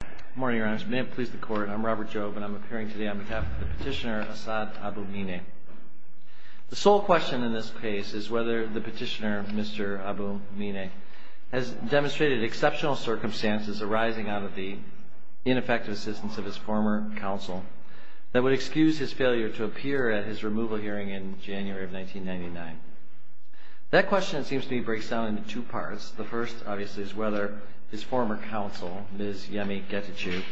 Good morning, Your Honor. May it please the Court, I'm Robert Jove, and I'm appearing today on behalf of the petitioner, Assad Abu Mineh. The sole question in this case is whether the petitioner, Mr. Abu Mineh, has demonstrated exceptional circumstances arising out of the ineffective assistance of his former counsel that would excuse his failure to appear at his removal hearing in January of 1999. That question, it seems to me, breaks down into two parts. The first, obviously, is whether his former counsel, Ms. Yemi Getachew,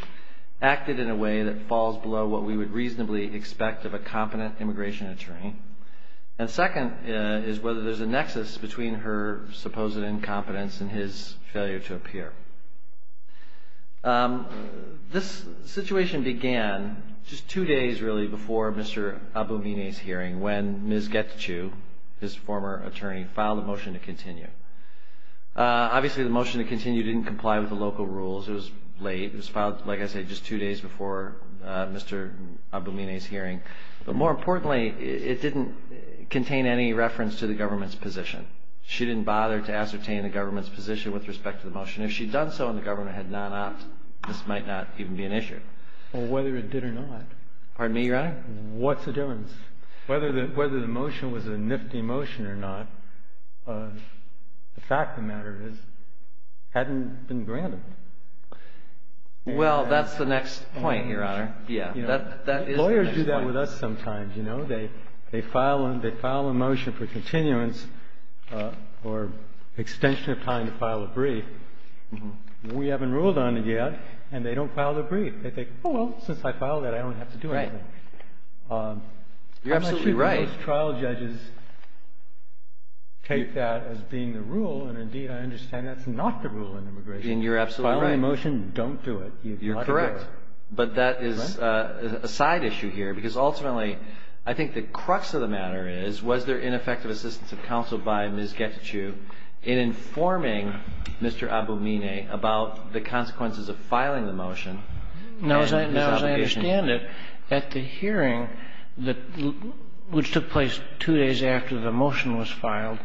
acted in a way that falls below what we would reasonably expect of a competent immigration attorney. And second is whether there's a nexus between her supposed incompetence and his failure to appear. This situation began just two days, really, before Mr. Abu Mineh's hearing when Ms. Getachew, his former attorney, filed a motion to continue. Obviously, the motion to continue didn't comply with the local rules. It was late. It was filed, like I said, just two days before Mr. Abu Mineh's hearing. But more importantly, it didn't contain any reference to the government's position. She didn't bother to ascertain the government's position with respect to the case. And so, if she had done so and the governor had not opted, this might not even be an issue. Well, whether it did or not. Pardon me, Your Honor? What's the difference? Whether the motion was a nifty motion or not, the fact of the matter is it hadn't been granted. Well, that's the next point, Your Honor. Yeah. That is the next point. You know, they file a motion for continuance or extension of time to file a brief. We haven't ruled on it yet, and they don't file the brief. They think, oh, well, since I filed it, I don't have to do anything. Right. You're absolutely right. Most trial judges take that as being the rule, and indeed, I understand that's not the rule in immigration. And you're absolutely right. You're correct. But that is a side issue here, because ultimately, I think the crux of the matter is, was there ineffective assistance of counsel by Ms. Getachew in informing Mr. Aboumine about the consequences of filing the motion? Now, as I understand it, at the hearing, which took place two days after the motion was filed,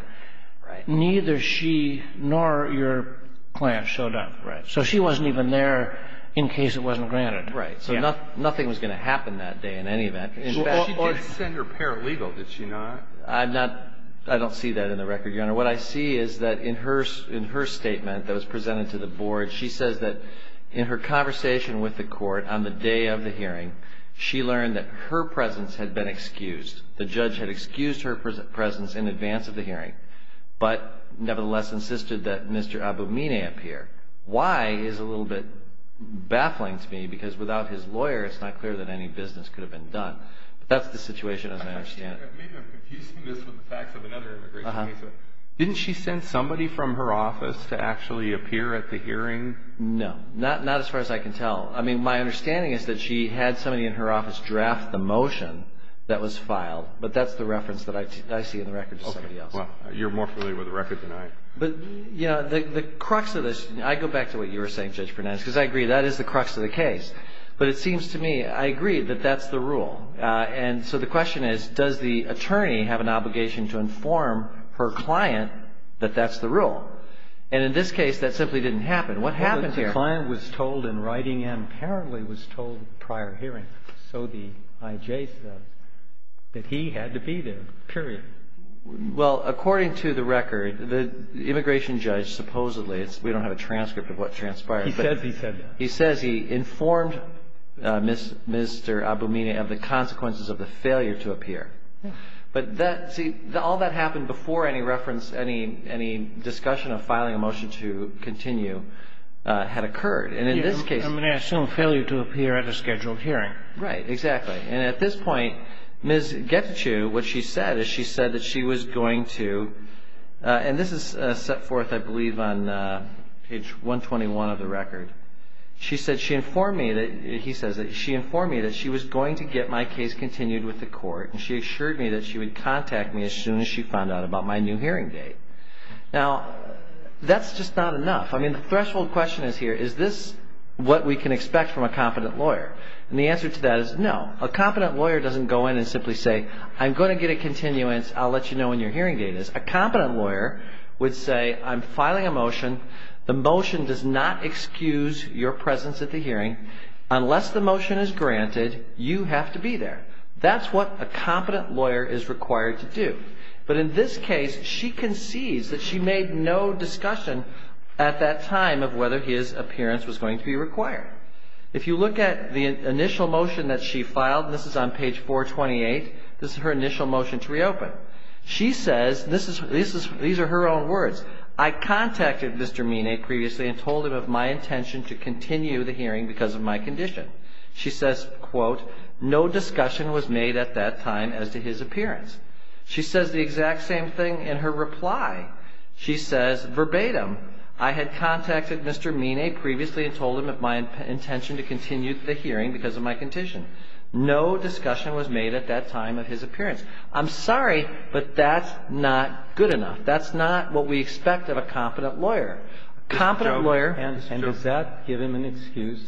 neither she nor your client showed up. Right. So she wasn't even there in case it wasn't granted. Right. So nothing was going to happen that day in any event. Or she didn't send her paralegal, did she not? I don't see that in the record, Your Honor. What I see is that in her statement that was presented to the Board, she says that in her conversation with the Court on the day of the hearing, she learned that her presence had been excused. The judge had excused her presence in advance of the hearing, but nevertheless insisted that Mr. Aboumine appear. Why is a little bit baffling to me, because without his lawyer, it's not clear that any business could have been done. But that's the situation, as I understand it. Maybe I'm confusing this with the facts of another immigration case. Didn't she send somebody from her office to actually appear at the hearing? No. Not as far as I can tell. I mean, my understanding is that she had somebody in her office draft the motion that was filed. But that's the reference that I see in the record to somebody else. Okay. Well, you're more familiar with the record than I am. But, you know, the crux of this, and I go back to what you were saying, Judge Pernance, because I agree, that is the crux of the case. But it seems to me, I agree, that that's the rule. And so the question is, does the attorney have an obligation to inform her client that that's the rule? And in this case, that simply didn't happen. What happened here? Well, the client was told in writing and apparently was told prior hearing, so the IJ says, that he had to be there, period. Well, according to the record, the immigration judge supposedly, we don't have a transcript of what transpired. He says he said that. He says he informed Mr. Abumina of the consequences of the failure to appear. But that, see, all that happened before any reference, any discussion of filing a motion to continue had occurred. And in this case. I'm going to assume failure to appear at a scheduled hearing. Right, exactly. And at this point, Ms. Getachew, what she said is she said that she was going to, and this is set forth, I believe, on page 121 of the record. She said she informed me that, he says that she informed me that she was going to get my case continued with the court. And she assured me that she would contact me as soon as she found out about my new hearing date. Now, that's just not enough. I mean, the threshold question is here, is this what we can expect from a competent lawyer? And the answer to that is no. A competent lawyer doesn't go in and simply say, I'm going to get a continuance, I'll let you know when your hearing date is. A competent lawyer would say, I'm filing a motion. The motion does not excuse your presence at the hearing. Unless the motion is granted, you have to be there. That's what a competent lawyer is required to do. But in this case, she concedes that she made no discussion at that time of whether his appearance was going to be required. If you look at the initial motion that she filed, this is on page 428. This is her initial motion to reopen. She says, these are her own words. I contacted Mr. Mine previously and told him of my intention to continue the hearing because of my condition. She says, quote, no discussion was made at that time as to his appearance. She says the exact same thing in her reply. She says verbatim, I had contacted Mr. Mine previously and told him of my intention to continue the hearing because of my condition. No discussion was made at that time of his appearance. I'm sorry, but that's not good enough. That's not what we expect of a competent lawyer. A competent lawyer. And does that give him an excuse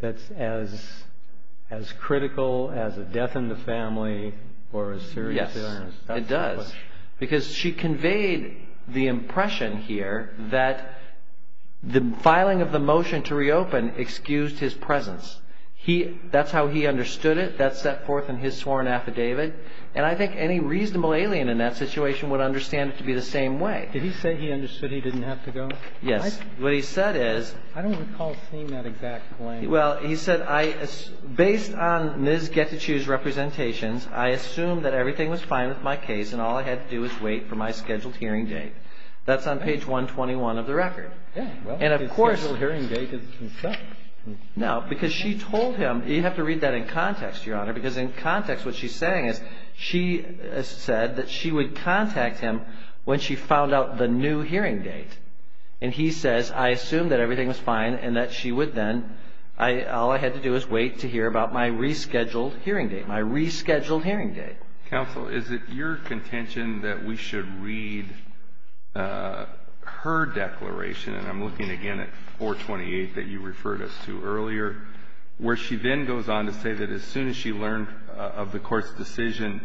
that's as critical as a death in the family or a serious illness? Yes, it does. Because she conveyed the impression here that the filing of the motion to reopen excused his presence. That's how he understood it. That's set forth in his sworn affidavit. And I think any reasonable alien in that situation would understand it to be the same way. Did he say he understood he didn't have to go? Yes. What he said is. I don't recall seeing that exact claim. Well, he said, based on Ms. Getachew's representations, I assumed that everything was fine with my case and all I had to do was wait for my scheduled hearing date. That's on page 121 of the record. Yeah. And of course. Well, his scheduled hearing date is consent. No, because she told him. You have to read that in context, Your Honor, because in context what she's saying is she said that she would contact him when she found out the new hearing date. And he says, I assumed that everything was fine and that she would then. All I had to do is wait to hear about my rescheduled hearing date, my rescheduled hearing date. Counsel, is it your contention that we should read her declaration? And I'm looking again at 428 that you referred us to earlier, where she then goes on to say that as soon as she learned of the court's decision,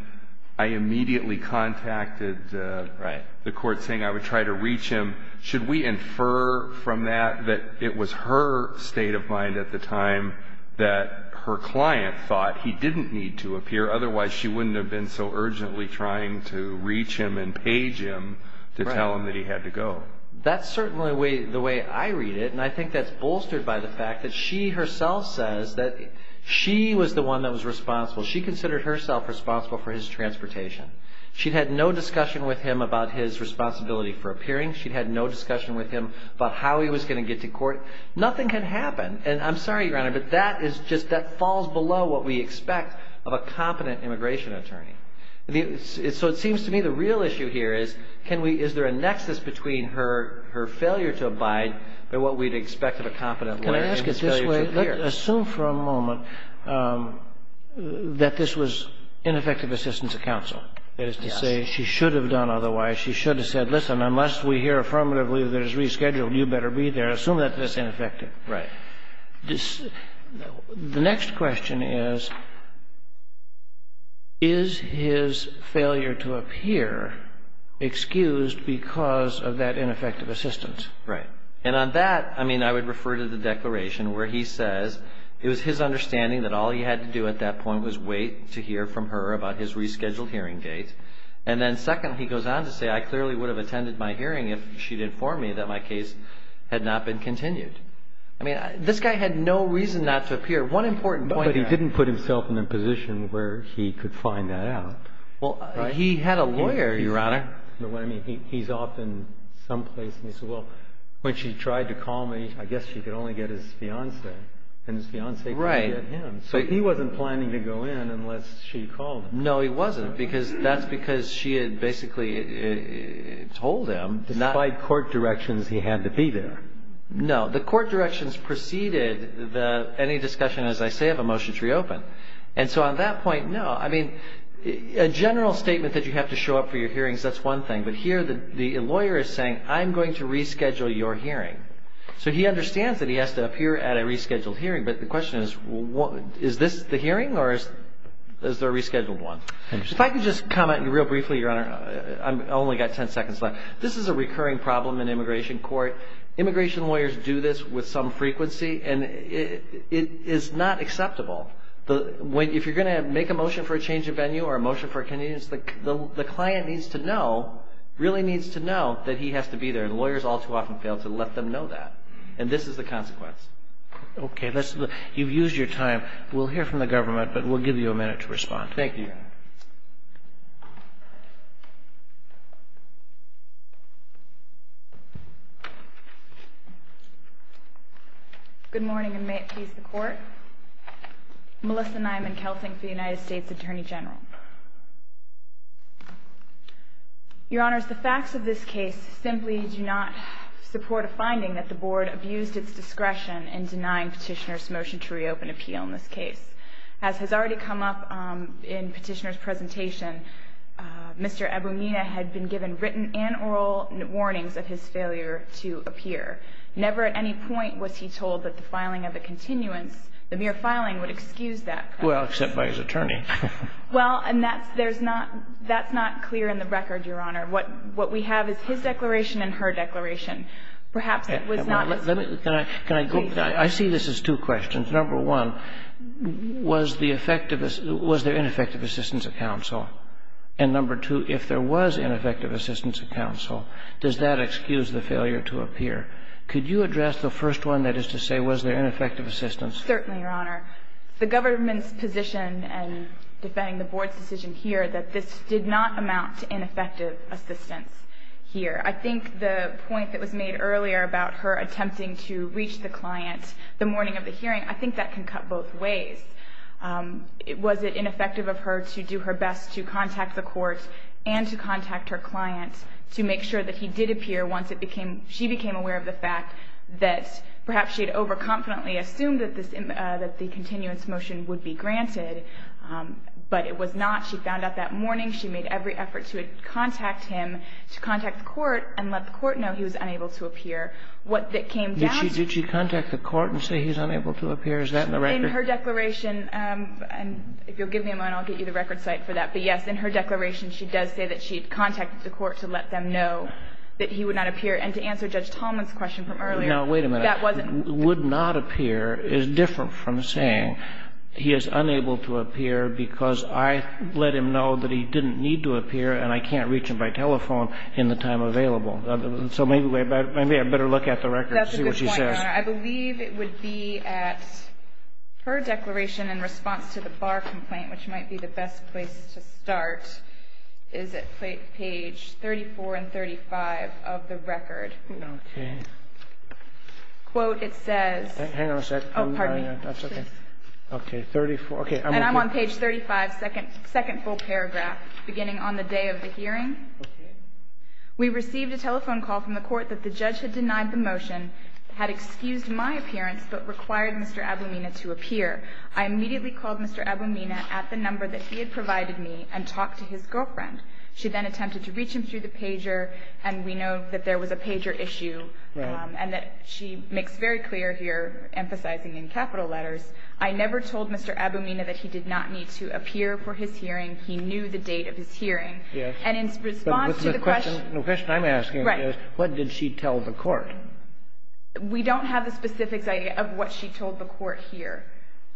I immediately contacted. Right. The court saying I would try to reach him. Should we infer from that that it was her state of mind at the time that her client thought he didn't need to appear? Otherwise, she wouldn't have been so urgently trying to reach him and page him to tell him that he had to go. So that's certainly the way I read it. And I think that's bolstered by the fact that she herself says that she was the one that was responsible. She considered herself responsible for his transportation. She had no discussion with him about his responsibility for appearing. She had no discussion with him about how he was going to get to court. Nothing can happen. And I'm sorry, Your Honor, but that is just that falls below what we expect of a competent immigration attorney. So it seems to me the real issue here is, is there a nexus between her failure to abide by what we'd expect of a competent lawyer and his failure to appear? Can I ask it this way? Assume for a moment that this was ineffective assistance of counsel. That is to say, she should have done otherwise. She should have said, listen, unless we hear affirmatively that it's rescheduled, you better be there. Assume that this is ineffective. Right. The next question is, is his failure to appear excused because of that ineffective assistance? Right. And on that, I mean, I would refer to the declaration where he says it was his understanding that all he had to do at that point was wait to hear from her about his rescheduled hearing date. And then second, he goes on to say, I clearly would have attended my hearing if she'd informed me that my case had not been continued. I mean, this guy had no reason not to appear. One important point. But he didn't put himself in a position where he could find that out. Well, he had a lawyer, Your Honor. But what I mean, he's off in some place. And he said, well, when she tried to call me, I guess she could only get his fiancé. And his fiancé couldn't get him. Right. So he wasn't planning to go in unless she called him. No, he wasn't. Because that's because she had basically told him. Despite court directions, he had to be there. No. The court directions preceded any discussion, as I say, of a motion to reopen. And so on that point, no. I mean, a general statement that you have to show up for your hearings, that's one thing. But here the lawyer is saying, I'm going to reschedule your hearing. So he understands that he has to appear at a rescheduled hearing. But the question is, is this the hearing or is there a rescheduled one? If I could just comment real briefly, Your Honor. I've only got 10 seconds left. This is a recurring problem in immigration court. Immigration lawyers do this with some frequency, and it is not acceptable. If you're going to make a motion for a change of venue or a motion for a convenience, the client needs to know, really needs to know, that he has to be there. And lawyers all too often fail to let them know that. And this is the consequence. Okay. You've used your time. We'll hear from the government, but we'll give you a minute to respond. Thank you, Your Honor. Good morning, and may it please the Court. Melissa Nyman-Kelting for the United States Attorney General. Your Honors, the facts of this case simply do not support a finding that the Board abused its discretion in denying Petitioner's motion to reopen appeal in this case. Mr. Abramita had been given written and oral warnings of his failure to appear. Never at any point was he told that the filing of the continuance, the mere filing, would excuse that. Well, except by his attorney. Well, and that's not clear in the record, Your Honor. What we have is his declaration and her declaration. Perhaps it was not as clear. Can I go? I see this as two questions. Number one, was the effective — was there ineffective assistance at counsel? And number two, if there was ineffective assistance at counsel, does that excuse the failure to appear? Could you address the first one, that is to say, was there ineffective assistance? Certainly, Your Honor. The government's position in defending the Board's decision here that this did not amount to ineffective assistance here. I think the point that was made earlier about her attempting to reach the client the morning of the hearing, I think that can cut both ways. Was it ineffective of her to do her best to contact the court and to contact her client to make sure that he did appear once it became — she became aware of the fact that perhaps she had overconfidently assumed that this — that the continuance motion would be granted, but it was not. She found out that morning. She made every effort to contact him, to contact the court, and let the court know he was unable to appear. What that came down to — Did she contact the court and say he's unable to appear? Is that in the record? In her declaration — and if you'll give me a moment, I'll get you the record site for that. But, yes, in her declaration, she does say that she contacted the court to let them know that he would not appear. And to answer Judge Tallman's question from earlier — Now, wait a minute. That wasn't — Would not appear is different from saying he is unable to appear because I let him know that he didn't need to appear and I can't reach him by telephone in the time available. So maybe I better look at the record and see what she says. Your Honor, I believe it would be at — her declaration in response to the bar complaint, which might be the best place to start, is at page 34 and 35 of the record. Okay. Quote, it says — Hang on a sec. Oh, pardon me. That's okay. Okay, 34 — okay. And I'm on page 35, second full paragraph, beginning on the day of the hearing. Okay. Right. And that she makes very clear here, emphasizing in capital letters, I never told Mr. Aboumina that he did not need to appear for his hearing. He knew the date of his hearing. The question I'm asking is what did she tell the court? We don't have the specifics of what she told the court here.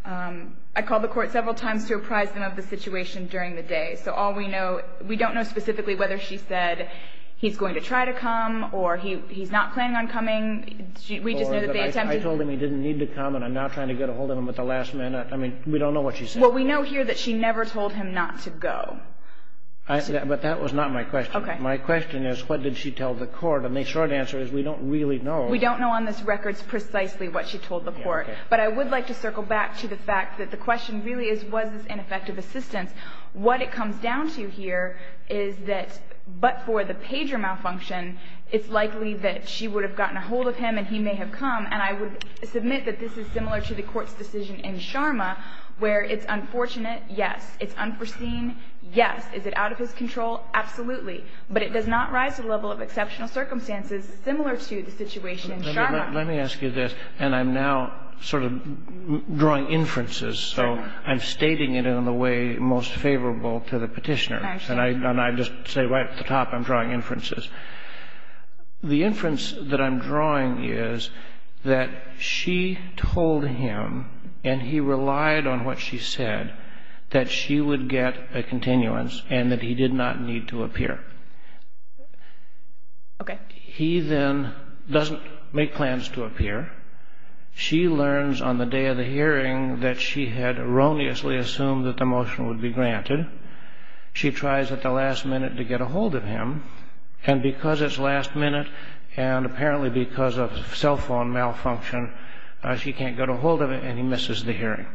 I called the court several times to apprise them of the situation during the day. So all we know — we don't know specifically whether she said he's going to try to come or he's not planning on coming. We just know that they attempted — I told him he didn't need to come and I'm not trying to get a hold of him at the last minute. I mean, we don't know what she said. Well, we know here that she never told him not to go. But that was not my question. Okay. My question is what did she tell the court? And the short answer is we don't really know. We don't know on this record precisely what she told the court. But I would like to circle back to the fact that the question really is was this ineffective assistance. What it comes down to here is that but for the pager malfunction, it's likely that she would have gotten a hold of him and he may have come. And I would submit that this is similar to the court's decision in Sharma where it's unfortunate, yes. It's unforeseen, yes. Is it out of his control? Absolutely. But it does not rise to the level of exceptional circumstances similar to the situation in Sharma. Let me ask you this. And I'm now sort of drawing inferences. So I'm stating it in the way most favorable to the petitioners. And I just say right at the top I'm drawing inferences. The inference that I'm drawing is that she told him and he relied on what she said that she would get a continuance and that he did not need to appear. Okay. He then doesn't make plans to appear. She learns on the day of the hearing that she had erroneously assumed that the motion would be granted. She tries at the last minute to get a hold of him. And because it's last minute and apparently because of cell phone malfunction, she can't get a hold of him and he misses the hearing.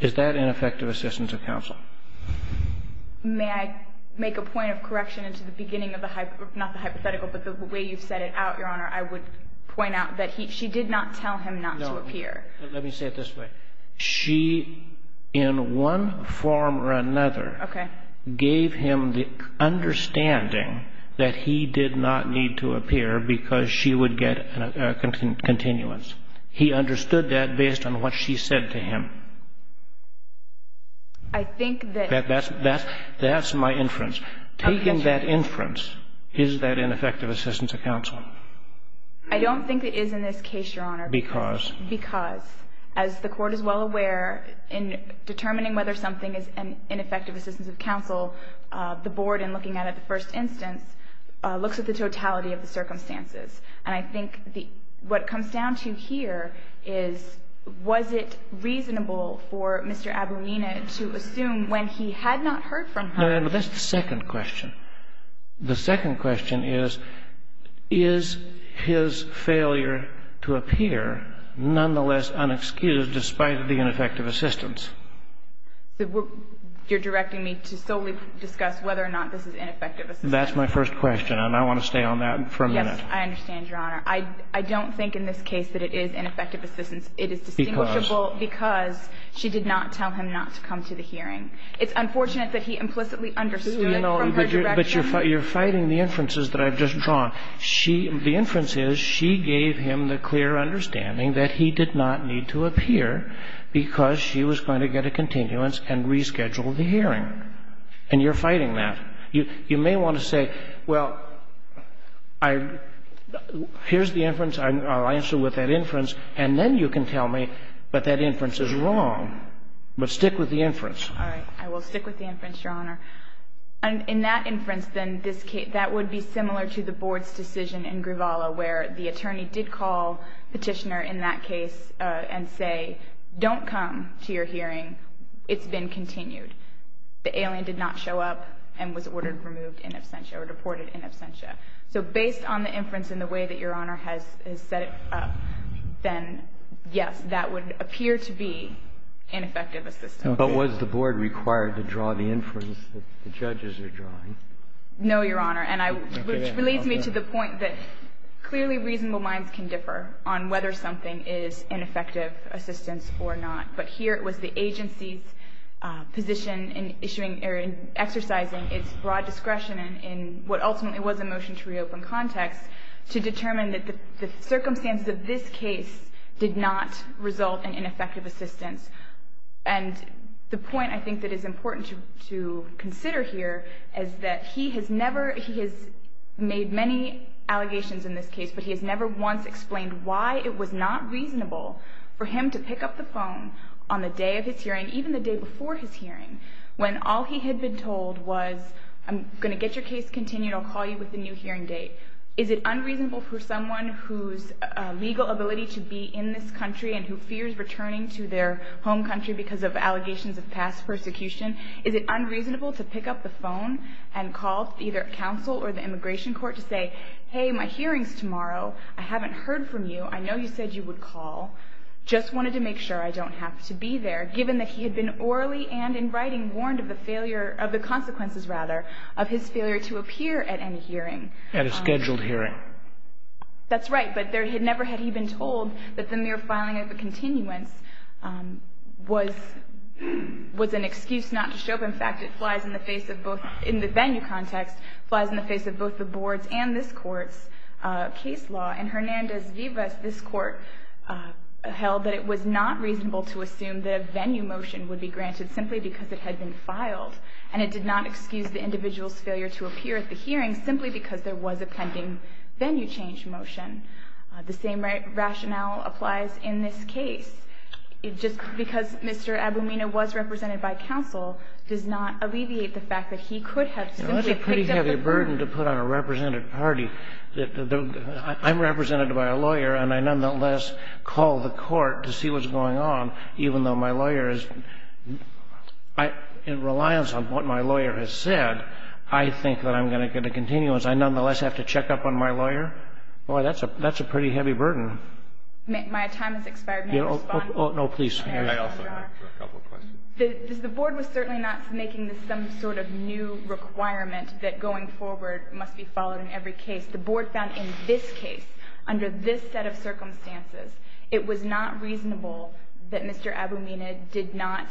Is that ineffective assistance of counsel? May I make a point of correction into the beginning of the hypothetical, but the way you set it out, Your Honor, I would point out that she did not tell him not to appear. No. Let me say it this way. She, in one form or another, gave him the understanding that he did not need to appear because she would get a continuance. He understood that based on what she said to him. I think that that's my inference. Taking that inference, is that ineffective assistance of counsel? I don't think it is in this case, Your Honor. Because? Because. As the Court is well aware, in determining whether something is an ineffective assistance of counsel, the Board, in looking at it the first instance, looks at the totality of the circumstances. And I think what it comes down to here is, was it reasonable for Mr. Abunina to assume when he had not heard from her? That's the second question. The second question is, is his failure to appear nonetheless unexcused despite the ineffective assistance? You're directing me to solely discuss whether or not this is ineffective assistance? That's my first question, and I want to stay on that for a minute. I understand, Your Honor. I don't think in this case that it is ineffective assistance. It is distinguishable because she did not tell him not to come to the hearing. It's unfortunate that he implicitly understood from her direction. But you're fighting the inferences that I've just drawn. She – the inference is she gave him the clear understanding that he did not need to appear because she was going to get a continuance and reschedule the hearing. And you're fighting that. You may want to say, well, I – here's the inference. I'll answer with that inference. And then you can tell me that that inference is wrong. But stick with the inference. All right. I will stick with the inference, Your Honor. In that inference, then, this case – that would be similar to the Board's decision in Gravala, where the attorney did call Petitioner in that case and say, don't come to your hearing. It's been continued. The alien did not show up and was ordered removed in absentia or deported in absentia. So based on the inference and the way that Your Honor has set it up, then, yes, that would appear to be ineffective assistance. But was the Board required to draw the inference that the judges are drawing? No, Your Honor. And I – which leads me to the point that clearly reasonable minds can differ on whether something is ineffective assistance or not. But here it was the agency's position in issuing – or in exercising its broad discretion in what ultimately was a motion to reopen context to determine that the circumstances of this case did not result in ineffective assistance. And the point, I think, that is important to consider here is that he has never – he has made many allegations in this case, but he has never once explained why it was not on the day of his hearing, even the day before his hearing, when all he had been told was, I'm going to get your case continued. I'll call you with the new hearing date. Is it unreasonable for someone whose legal ability to be in this country and who fears returning to their home country because of allegations of past persecution, is it unreasonable to pick up the phone and call either counsel or the immigration court to say, hey, my hearing's tomorrow. I haven't heard from you. I know you said you would call. Just wanted to make sure I don't have to be there, given that he had been orally and in writing warned of the failure – of the consequences, rather, of his failure to appear at any hearing. At a scheduled hearing. That's right. But there – never had he been told that the mere filing of a continuance was an excuse not to show up. In fact, it flies in the face of both – in the venue context, flies in the face of both the board's and this Court's case law. In Hernandez-Vivas, this Court held that it was not reasonable to assume that a venue motion would be granted simply because it had been filed. And it did not excuse the individual's failure to appear at the hearing simply because there was a pending venue change motion. The same rationale applies in this case. It just – because Mr. Abumina was represented by counsel does not alleviate the fact that he could have simply picked up the phone. It's a burden to put on a represented party. I'm represented by a lawyer and I nonetheless call the court to see what's going on, even though my lawyer is – in reliance on what my lawyer has said, I think that I'm going to get a continuance. I nonetheless have to check up on my lawyer. Boy, that's a pretty heavy burden. My time has expired. May I respond? No, please. I also have a couple questions. The Board was certainly not making this some sort of new requirement that going forward must be followed in every case. The Board found in this case, under this set of circumstances, it was not reasonable that Mr. Abumina did not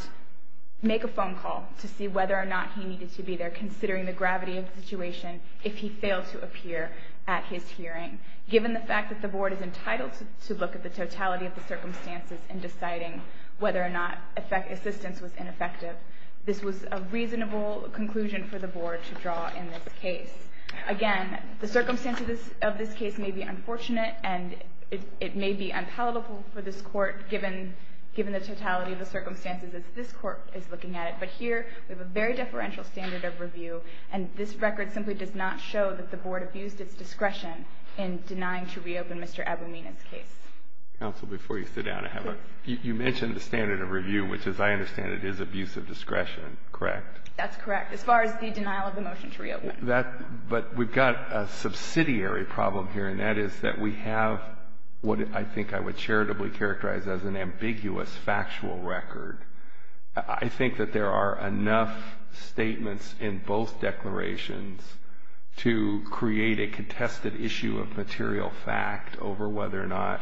make a phone call to see whether or not he needed to be there considering the gravity of the situation if he failed to appear at his hearing. Given the fact that the Board is entitled to look at the totality of the circumstances in deciding whether or not assistance was ineffective, this was a reasonable conclusion for the Board to draw in this case. Again, the circumstances of this case may be unfortunate and it may be unpalatable for this Court, given the totality of the circumstances that this Court is looking at, but here we have a very deferential standard of review, and this record simply does not show that the Board abused its discretion in denying to reopen Mr. Abumina's case. Counsel, before you sit down, I have a question. You mentioned the standard of review, which, as I understand it, is abuse of discretion, correct? That's correct, as far as the denial of the motion to reopen. But we've got a subsidiary problem here, and that is that we have what I think I would charitably characterize as an ambiguous factual record. I think that there are enough statements in both declarations to create a contested issue of material fact over whether or not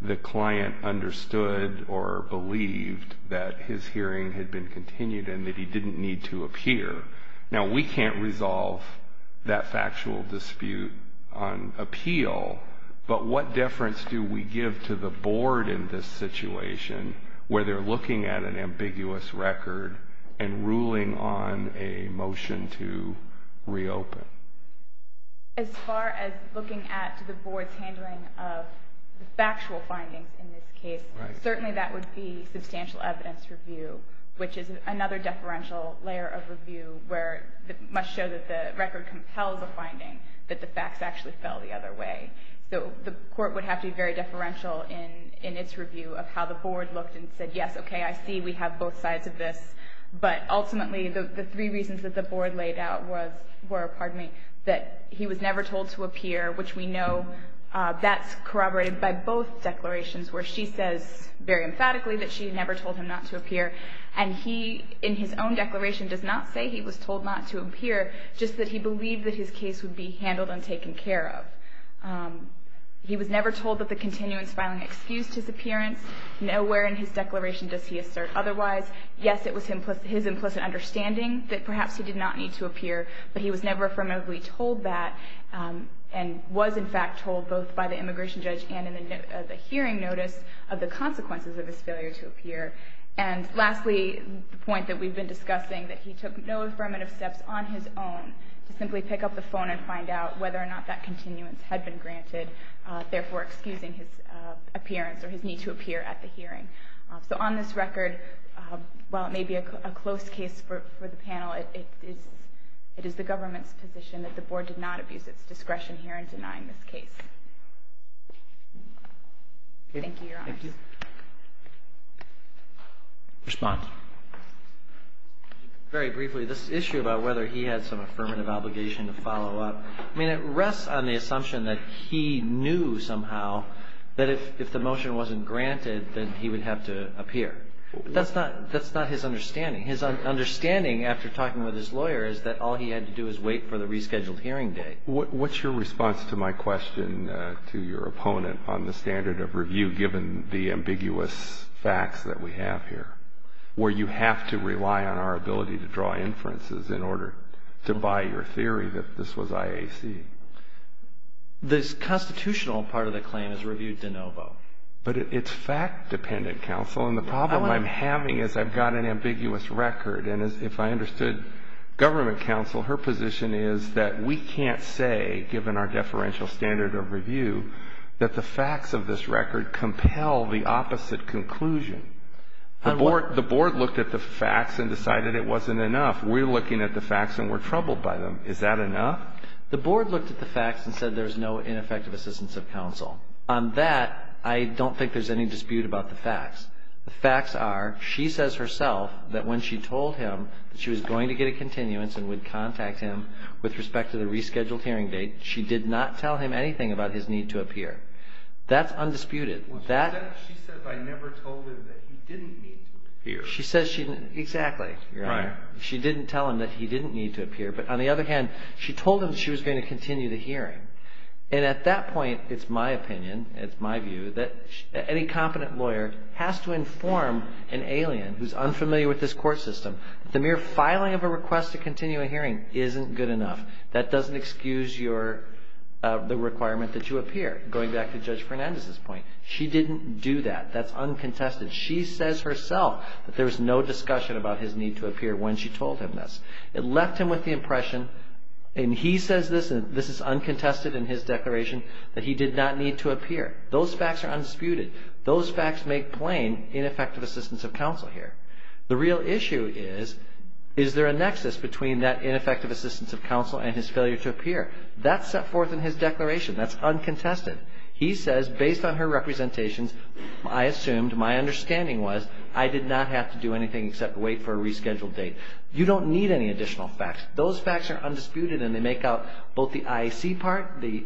the client understood or believed that his hearing had been continued and that he didn't need to appear. Now, we can't resolve that factual dispute on appeal, but what difference do we give to the Board in this situation, where they're looking at an ambiguous record and ruling on a motion to reopen? As far as looking at the Board's handling of the factual findings in this case, certainly that would be substantial evidence review, which is another deferential layer of review where it must show that the record compels a finding that the facts actually fell the other way. So the Court would have to be very deferential in its review of how the Board looked and said, yes, okay, I see we have both sides of this. But ultimately, the three reasons that the Board laid out were, pardon me, that he was never told to appear, which we know that's corroborated by both declarations, where she says very emphatically that she never told him not to appear. And he, in his own declaration, does not say he was told not to appear, just that he believed that his case would be handled and taken care of. He was never told that the continuance filing excused his appearance. Nowhere in his declaration does he assert otherwise. Yes, it was his implicit understanding that perhaps he did not need to appear, but he was never affirmatively told that and was, in fact, told both by the immigration judge and in the hearing notice of the consequences of his failure to appear. And lastly, the point that we've been discussing, that he took no affirmative steps on his own to simply pick up the phone and find out whether or not that continuance had been granted, therefore excusing his appearance or his need to appear at the hearing. So on this record, while it may be a close case for the panel, it is the government's position that the board did not abuse its discretion here in denying this case. Thank you, Your Honor. Thank you. Response? Very briefly, this issue about whether he had some affirmative obligation to follow up, I mean, it rests on the assumption that he knew somehow that if the motion wasn't granted, then he would have to appear. That's not his understanding. His understanding, after talking with his lawyer, is that all he had to do is wait for the rescheduled hearing date. What's your response to my question to your opponent on the standard of review, given the ambiguous facts that we have here, where you have to rely on our ability to draw inferences in order to buy your theory that this was IAC? The constitutional part of the claim is reviewed de novo. But it's fact-dependent, counsel. And the problem I'm having is I've got an ambiguous record. And if I understood government counsel, her position is that we can't say, given our deferential standard of review, that the facts of this record compel the opposite conclusion. The board looked at the facts and decided it wasn't enough. We're looking at the facts and we're troubled by them. Is that enough? The board looked at the facts and said there's no ineffective assistance of counsel. On that, I don't think there's any dispute about the facts. The facts are, she says herself that when she told him that she was going to get a continuance and would contact him with respect to the rescheduled hearing date, she did not tell him anything about his need to appear. That's undisputed. She said I never told him that he didn't need to appear. Exactly. She didn't tell him that he didn't need to appear. But on the other hand, she told him she was going to continue the hearing. And at that point, it's my opinion, it's my view, that any competent lawyer has to inform an alien who's unfamiliar with this court system that the mere filing of a request to continue a hearing isn't good enough. That doesn't excuse the requirement that you appear, going back to Judge Fernandez's point. She didn't do that. That's uncontested. She says herself that there was no discussion about his need to appear when she told him this. It left him with the impression, and he says this, and this is uncontested in his declaration, that he did not need to appear. Those facts are undisputed. Those facts make plain ineffective assistance of counsel here. The real issue is, is there a nexus between that ineffective assistance of counsel and his failure to appear? That's set forth in his declaration. That's uncontested. He says, based on her representations, I assumed, my understanding was, I did not have to do anything except wait for a rescheduled date. You don't need any additional facts. Those facts are undisputed, and they make out both the IAC part, the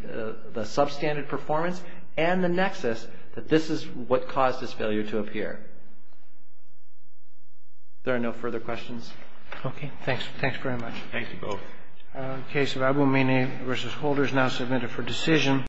substandard performance, and the nexus that this is what caused his failure to appear. Are there no further questions? Okay. Thanks. Thanks very much. Thank you both. The case of Aboumeni v. Holder is now submitted for decision.